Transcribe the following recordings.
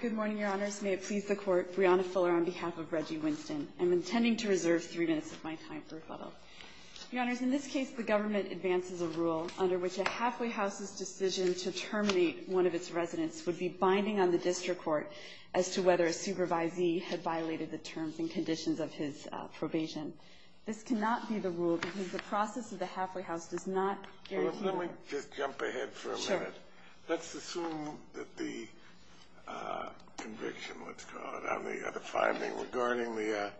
Good morning, Your Honors. May it please the Court, Breonna Fuller on behalf of Reggie Winston. I'm intending to reserve three minutes of my time for rebuttal. Your Honors, in this case, the government advances a rule under which a halfway house's decision to terminate one of its residents would be binding on the district court as to whether a supervisee had violated the terms and conditions of his probation. This cannot be the rule because the process of the halfway house does not guarantee... Well, if let me just jump ahead for a minute. Sure. Let's assume that the conviction, let's call it, on the other finding regarding the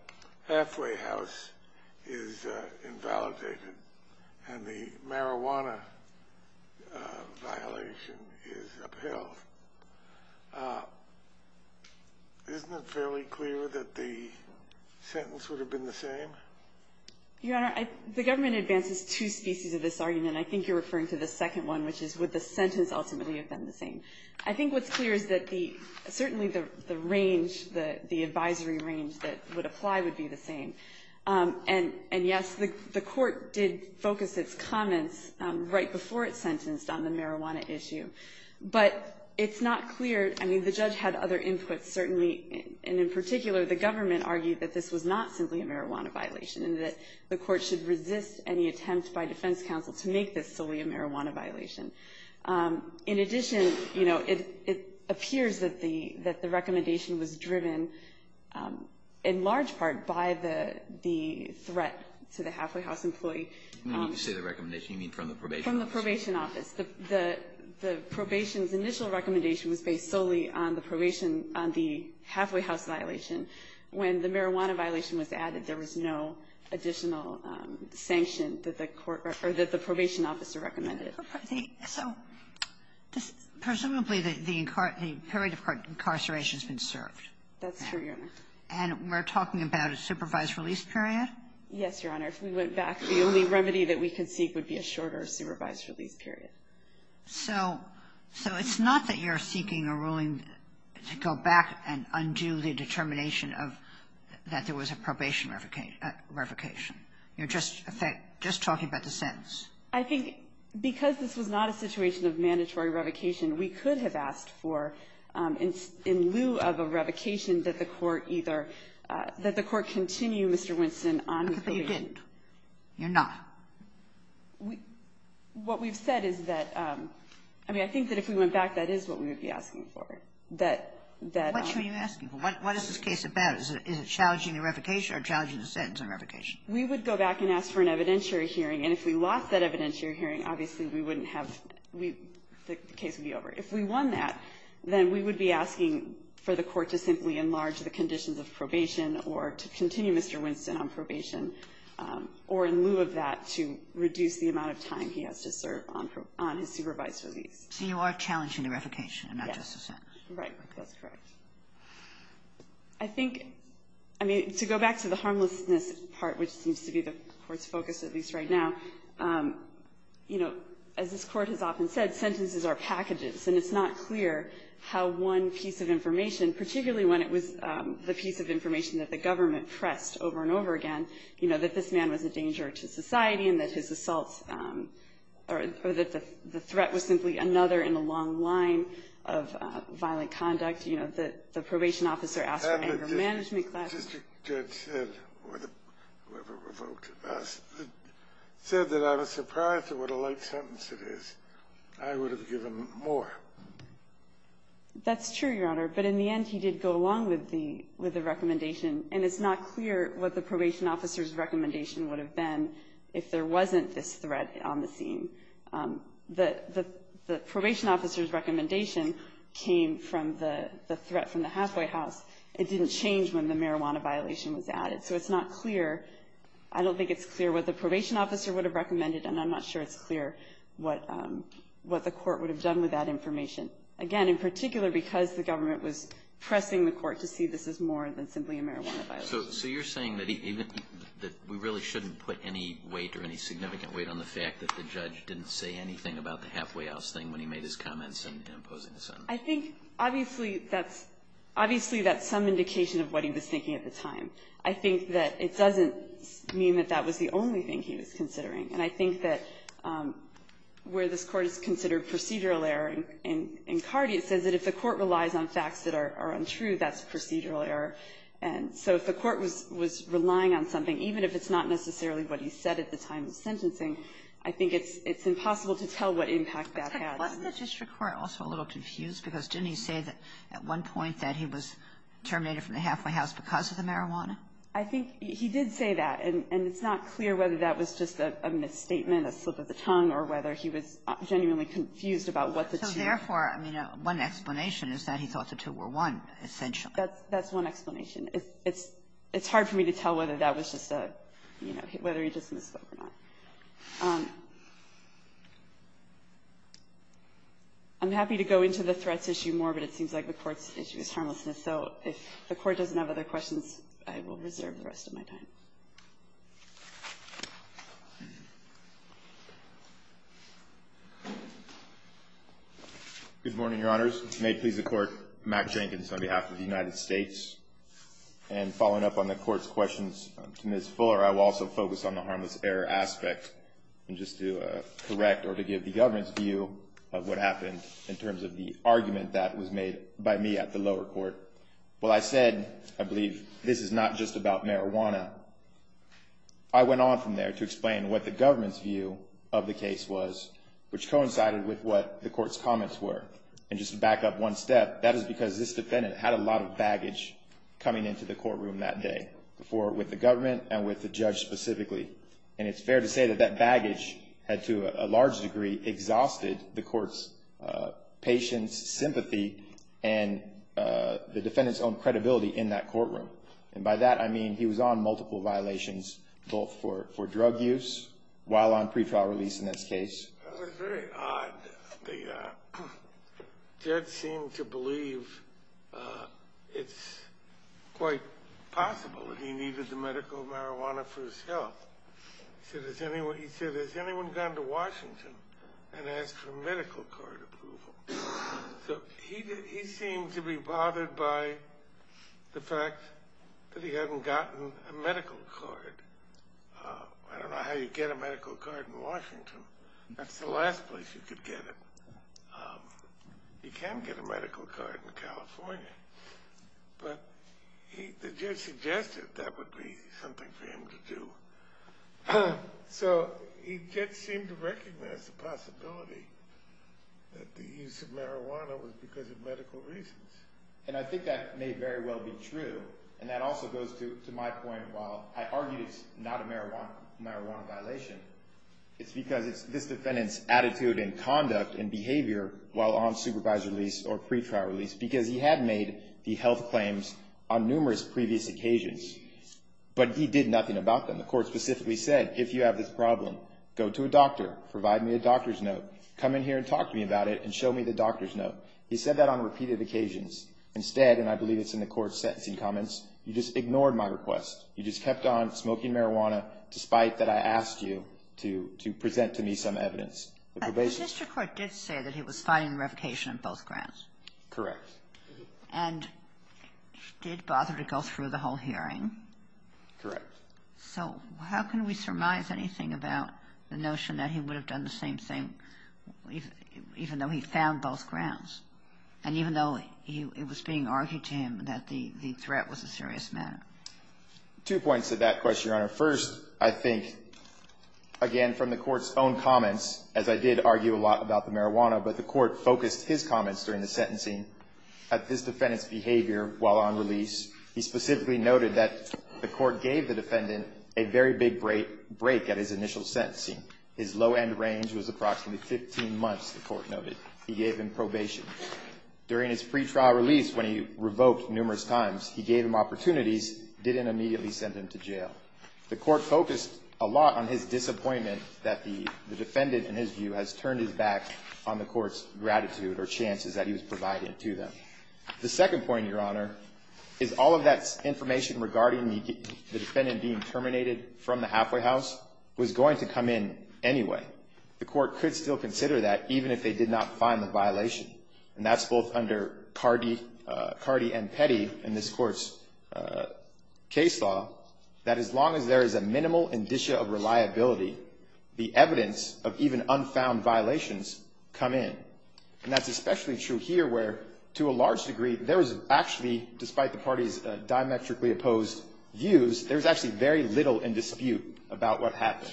halfway house is invalidated and the marijuana violation is upheld. Isn't it fairly clear that the sentence would have been the same? Your Honor, the government advances two species of this argument. I think you're referring to the second one, which is would the sentence ultimately have been the same. I think what's clear is that the, certainly the range, the advisory range that would apply would be the same. And yes, the court did focus its comments right before it sentenced on the marijuana issue. But it's not clear. I mean, the judge had other inputs, certainly. And in particular, the government argued that this was not simply a marijuana violation and that the court should resist any attempt by defense counsel to make this solely a marijuana violation. In addition, you know, it appears that the recommendation was driven in large part by the threat to the halfway house employee. When you say the recommendation, you mean from the probation office? The probation's initial recommendation was based solely on the probation, on the halfway house violation. When the marijuana violation was added, there was no additional sanction that the court or that the probation officer recommended. So presumably the period of incarceration has been served. That's true, Your Honor. And we're talking about a supervised release period? Yes, Your Honor. If we went back, the only remedy that we could seek would be a shorter supervised release period. So it's not that you're seeking a ruling to go back and undo the determination of that there was a probation revocation. You're just talking about the sentence. I think because this was not a situation of mandatory revocation, we could have asked for, in lieu of a revocation, that the court either – that the court continue, Mr. Winston, on the probation. No, you didn't. You're not. What we've said is that – I mean, I think that if we went back, that is what we would be asking for. That – What should we be asking for? What is this case about? Is it challenging the revocation or challenging the sentence on revocation? We would go back and ask for an evidentiary hearing, and if we lost that evidentiary hearing, obviously we wouldn't have – the case would be over. If we won that, then we would be asking for the court to simply enlarge the conditions of probation or to continue Mr. Winston on probation, or, in lieu of that, to reduce the amount of time he has to serve on his supervised release. So you are challenging the revocation and not just the sentence. Yes. Right. That's correct. I think – I mean, to go back to the harmlessness part, which seems to be the Court's focus, at least right now, you know, as this Court has often said, sentences are packages, and it's not clear how one piece of information, particularly when it was the piece of information that the government pressed over and over again, you know, that this man was a danger to society and that his assaults – or that the threat was simply another in a long line of violent conduct, you know, that the probation officer asked for anger management class – Had the district judge said – or whoever revoked it – said that I was surprised at what a light sentence it is, I would have given more. That's true, Your Honor, but in the end, he did go along with the – with the recommendation, and it's not clear what the probation officer's recommendation would have been if there wasn't this threat on the scene. The probation officer's recommendation came from the threat from the halfway house. It didn't change when the marijuana violation was added. So it's not clear – I don't think it's clear what the probation officer would have recommended, and I'm not sure it's clear what the Court would have done with that information, again, in particular because the government was pressing the Court to see this as more than simply a marijuana violation. So – so you're saying that he – that we really shouldn't put any weight or any significant weight on the fact that the judge didn't say anything about the halfway house thing when he made his comments in opposing the sentence? I think, obviously, that's – obviously, that's some indication of what he was thinking at the time. I think that it doesn't mean that that was the only thing he was considering, and I think in Cardi it says that if the Court relies on facts that are untrue, that's procedural error. And so if the Court was – was relying on something, even if it's not necessarily what he said at the time of sentencing, I think it's – it's impossible to tell what impact that had. But wasn't the district court also a little confused? Because didn't he say that at one point that he was terminated from the halfway house because of the marijuana? I think he did say that, and it's not clear whether that was just a misstatement, a slip of the tongue, or whether he was genuinely confused about what the two – But therefore, I mean, one explanation is that he thought the two were one, essentially. That's – that's one explanation. It's – it's hard for me to tell whether that was just a – you know, whether he just misspoke or not. I'm happy to go into the threats issue more, but it seems like the Court's issue is harmlessness. So if the Court doesn't have other questions, I will reserve the rest of my time. Good morning, Your Honors. May it please the Court, Mack Jenkins on behalf of the United States. And following up on the Court's questions to Ms. Fuller, I will also focus on the harmless error aspect, and just to correct or to give the government's view of what happened in terms of the argument that was made by me at the lower court. Well, I said, I believe, this is not just about marijuana. I went on from there to explain what the government's view of the case was, which coincided with what the Court's comments were. And just to back up one step, that is because this defendant had a lot of baggage coming into the courtroom that day for – with the government and with the judge specifically. And it's fair to say that that baggage had, to a large degree, exhausted the Court's patience, sympathy, and the defendant's own credibility in that courtroom. And by that, I mean he was on multiple violations, both for drug use, while on pre-trial release in this case. That's very odd. The judge seemed to believe it's quite possible that he needed the medical marijuana for his health. He said, has anyone gone to Washington and asked for medical card approval? So he seemed to be bothered by the fact that he hadn't gotten a medical card. I don't know how you get a medical card in Washington. That's the last place you could get it. You can get a medical card in California. But the judge suggested that would be something for him to do. So he just seemed to recognize the possibility that the use of marijuana was because of medical reasons. And I think that may very well be true. And that also goes to my point, while I argue it's not a marijuana violation, it's because it's this defendant's attitude and conduct and behavior while on supervisory release or pre-trial release. Because he had made the health claims on numerous previous occasions, but he did nothing about them. The court specifically said, if you have this problem, go to a doctor. Provide me a doctor's note. Come in here and talk to me about it and show me the doctor's note. He said that on repeated occasions. Instead, and I believe it's in the court's sentencing comments, you just ignored my request. You just kept on smoking marijuana despite that I asked you to present to me some evidence. But the district court did say that he was fighting revocation on both grounds. Correct. And did bother to go through the whole hearing. Correct. So how can we surmise anything about the notion that he would have done the same thing even though he found both grounds? And even though it was being argued to him that the threat was a serious matter? Two points to that question, Your Honor. First, I think, again, from the court's own comments, as I did argue a lot about the marijuana, but the court focused his comments during the sentencing at this defendant's behavior while on release. He specifically noted that the court gave the defendant a very big break at his initial sentencing. His low end range was approximately 15 months, the court noted. He gave him probation. During his pretrial release when he revoked numerous times, he gave him opportunities, didn't immediately send him to jail. The court focused a lot on his disappointment that the defendant, in his view, has turned his back on the court's gratitude or chances that he was providing to them. The second point, Your Honor, is all of that information regarding the defendant being terminated from the halfway house was going to come in anyway. The court could still consider that even if they did not find the violation. And that's both under Cardi and Petty in this court's case law, that as long as there is a minimal indicia of reliability, the evidence of even unfound violations come in. And that's especially true here where, to a large degree, there was actually, despite the party's diametrically opposed views, there was actually very little in dispute about what happened.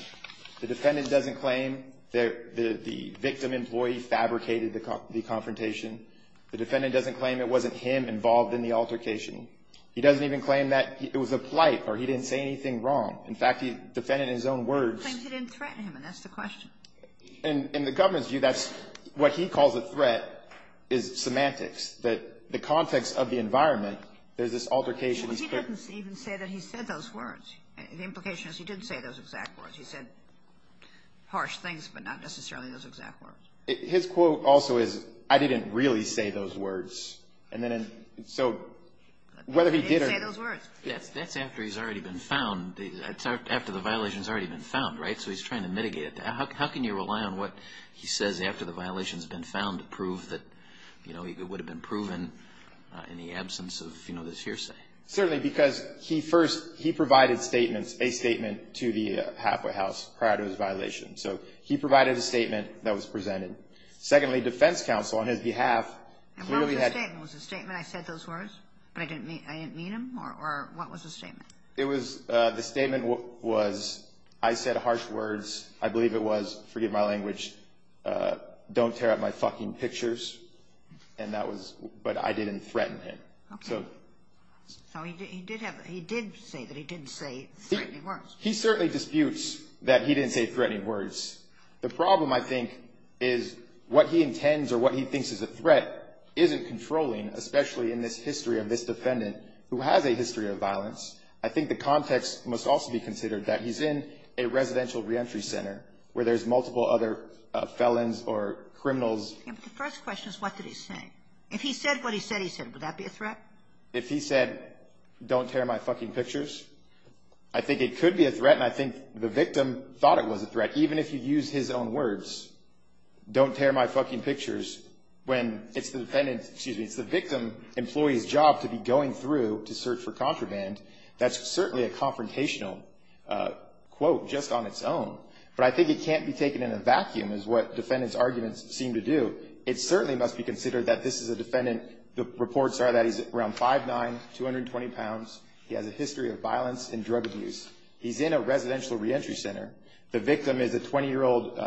The defendant doesn't claim that the victim employee fabricated the confrontation. The defendant doesn't claim it wasn't him involved in the altercation. He doesn't even claim that it was a plight or he didn't say anything wrong. In fact, he defended his own words. He claims he didn't threaten him, and that's the question. In the government's view, that's what he calls a threat, is semantics, that the context of the environment, there's this altercation. But he doesn't even say that he said those words. The implication is he didn't say those exact words. He said harsh things, but not necessarily those exact words. His quote also is, I didn't really say those words. So whether he did or not. I didn't say those words. That's after he's already been found. That's after the violation's already been found, right? So he's trying to mitigate it. How can you rely on what he says after the violation's been found to prove that, you know, it would have been proven in the absence of, you know, this hearsay? Certainly, because he first, he provided statements, a statement to the halfway house prior to his violation. So he provided a statement that was presented. Secondly, defense counsel, on his behalf. And what was the statement? Was the statement, I said those words, but I didn't mean them, or what was the statement? It was, the statement was, I said harsh words. I believe it was, forgive my language, don't tear up my fucking pictures. And that was, but I didn't threaten him. Okay. So he did have, he did say that he didn't say threatening words. He certainly disputes that he didn't say threatening words. The problem, I think, is what he intends or what he thinks is a threat isn't controlling, especially in this history of this defendant who has a history of violence. I think the context must also be considered that he's in a residential reentry center where there's multiple other felons or criminals. Yeah, but the first question is what did he say? If he said what he said, he said, would that be a threat? If he said, don't tear my fucking pictures, I think it could be a threat, and I think the victim thought it was a threat. Even if you use his own words, don't tear my fucking pictures, when it's the defendant's, excuse me, it's the victim employee's job to be going through to search for contraband, that's certainly a confrontational quote just on its own. But I think it can't be taken in a vacuum is what defendants' arguments seem to do. It certainly must be considered that this is a defendant. The reports are that he's around 5'9", 220 pounds. He has a history of violence and drug abuse. He's in a residential reentry center. The victim is a 20-year-old,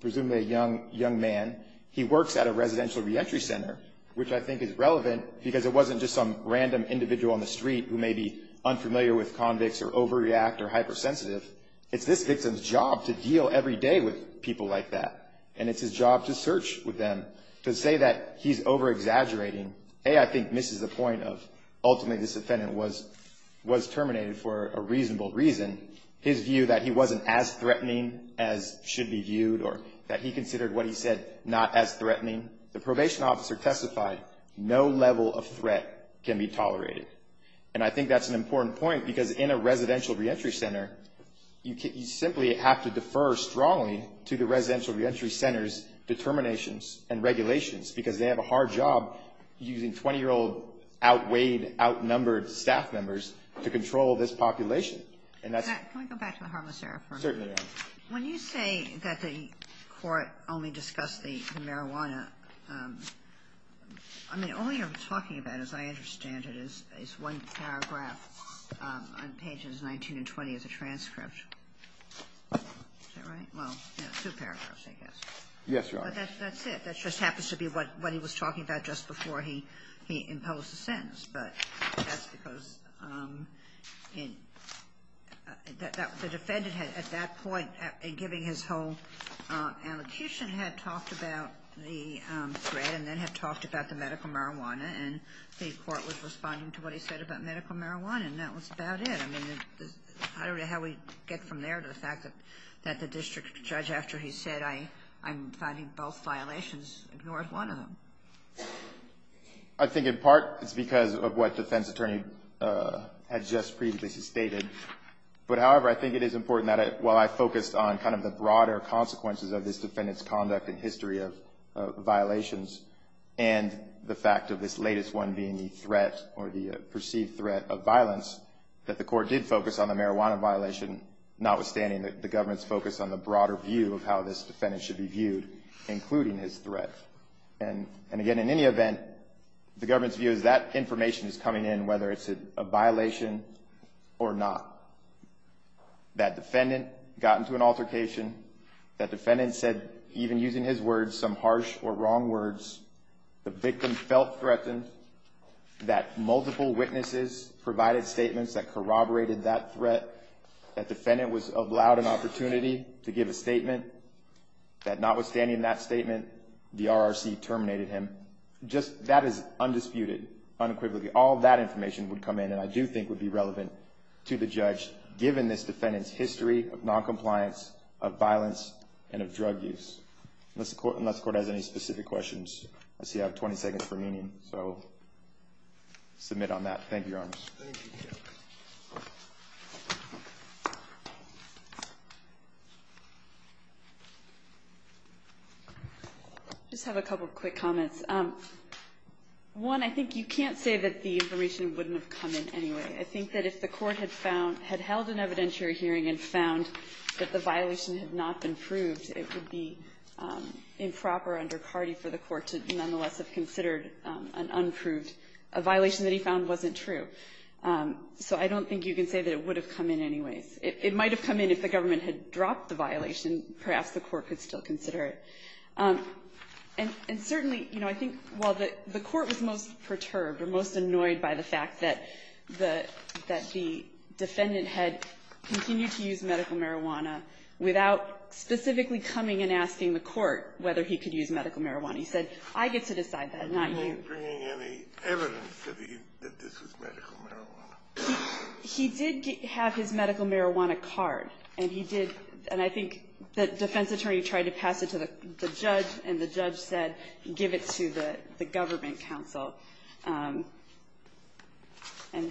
presumably a young man. He works at a residential reentry center, which I think is relevant because it wasn't just some random individual on the street who may be unfamiliar with convicts or overreact or hypersensitive. It's this victim's job to deal every day with people like that, and it's his job to search with them, to say that he's over-exaggerating. A, I think misses the point of ultimately this defendant was terminated for a reasonable reason. His view that he wasn't as threatening as should be viewed or that he considered what he said not as threatening. The probation officer testified, no level of threat can be tolerated. And I think that's an important point because in a residential reentry center, you simply have to defer strongly to the residential reentry center's determinations and regulations because they have a hard job using 20-year-old outweighed, outnumbered staff members to control this population. Can I go back to the harmless era for a moment? Certainly. When you say that the court only discussed the marijuana, I mean, all you're talking about, as I understand it, is one paragraph on pages 19 and 20 as a transcript. Is that right? Well, two paragraphs, I guess. Yes, Your Honor. That's it. That just happens to be what he was talking about just before he imposed the sentence. But that's because the defendant, at that point, in giving his whole allocution, had talked about the threat and then had talked about the medical marijuana, and the court was responding to what he said about medical marijuana, and that was about it. I mean, I don't know how we get from there to the fact that the district judge, after he said, I'm finding both violations, ignores one of them. I think in part it's because of what the defense attorney had just previously stated. But, however, I think it is important that while I focused on kind of the broader consequences of this defendant's conduct and history of violations and the fact of this latest one being the threat or the perceived threat of violence, that the court did focus on the marijuana violation, notwithstanding the government's focus on the broader view of how this defendant should be viewed, including his threat. And, again, in any event, the government's view is that information is coming in, whether it's a violation or not. That defendant got into an altercation. That defendant said, even using his words, some harsh or wrong words. The victim felt threatened. That multiple witnesses provided statements that corroborated that threat. That defendant was allowed an opportunity to give a statement. That notwithstanding that statement, the RRC terminated him. Just that is undisputed, unequivocally. All that information would come in, and I do think would be relevant to the judge, given this defendant's history of noncompliance, of violence, and of drug use. Unless the court has any specific questions. I see I have 20 seconds remaining, so I'll submit on that. Thank you, Your Honors. Thank you. I just have a couple quick comments. One, I think you can't say that the information wouldn't have come in anyway. I think that if the court had found, had held an evidentiary hearing and found that the violation had not been proved, it would be improper under Cardi for the court to nonetheless have considered an unproved violation that he found wasn't true. So I don't think you can say that it would have come in anyways. It might have come in if the government had dropped the violation. Perhaps the court could still consider it. And certainly, you know, I think while the court was most perturbed or most annoyed by the fact that the defendant had continued to use medical marijuana without specifically coming and asking the court whether he could use medical marijuana. He said, I get to decide that, not you. Are you bringing any evidence that this was medical marijuana? He did have his medical marijuana card, and he did. And I think the defense attorney tried to pass it to the judge, and the judge said, give it to the government counsel. And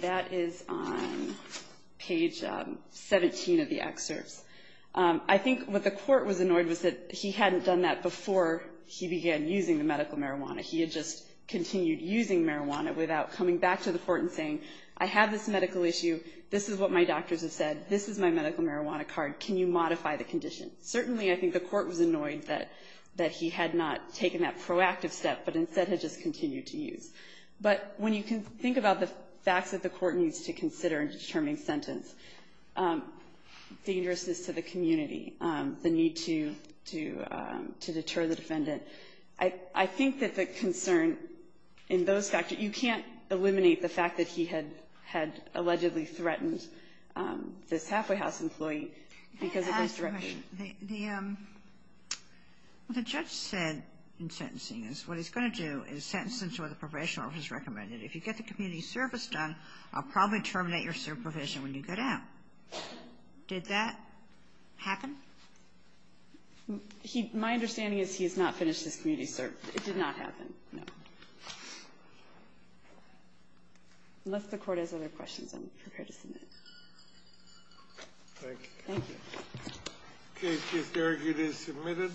that is on page 17 of the excerpts. I think what the court was annoyed was that he hadn't done that before he began using the medical marijuana. He had just continued using marijuana without coming back to the court and saying, I have this medical issue. This is what my doctors have said. This is my medical marijuana card. Can you modify the condition? Certainly, I think the court was annoyed that he had not taken that proactive step, but instead had just continued to use. But when you think about the facts that the court needs to consider in determining sentence, dangerousness to the community, the need to deter the defendant, I think that the concern in those factors, you can't eliminate the fact that he had allegedly threatened this halfway house employee because of this direction. The judge said in sentencing is what he's going to do is sentence him to what the probation office recommended. If you get the community service done, I'll probably terminate your supervision when you get out. Did that happen? My understanding is he has not finished his community service. It did not happen, no. Unless the court has other questions, I'm prepared to submit. Thank you. Thank you. The case is argued and submitted.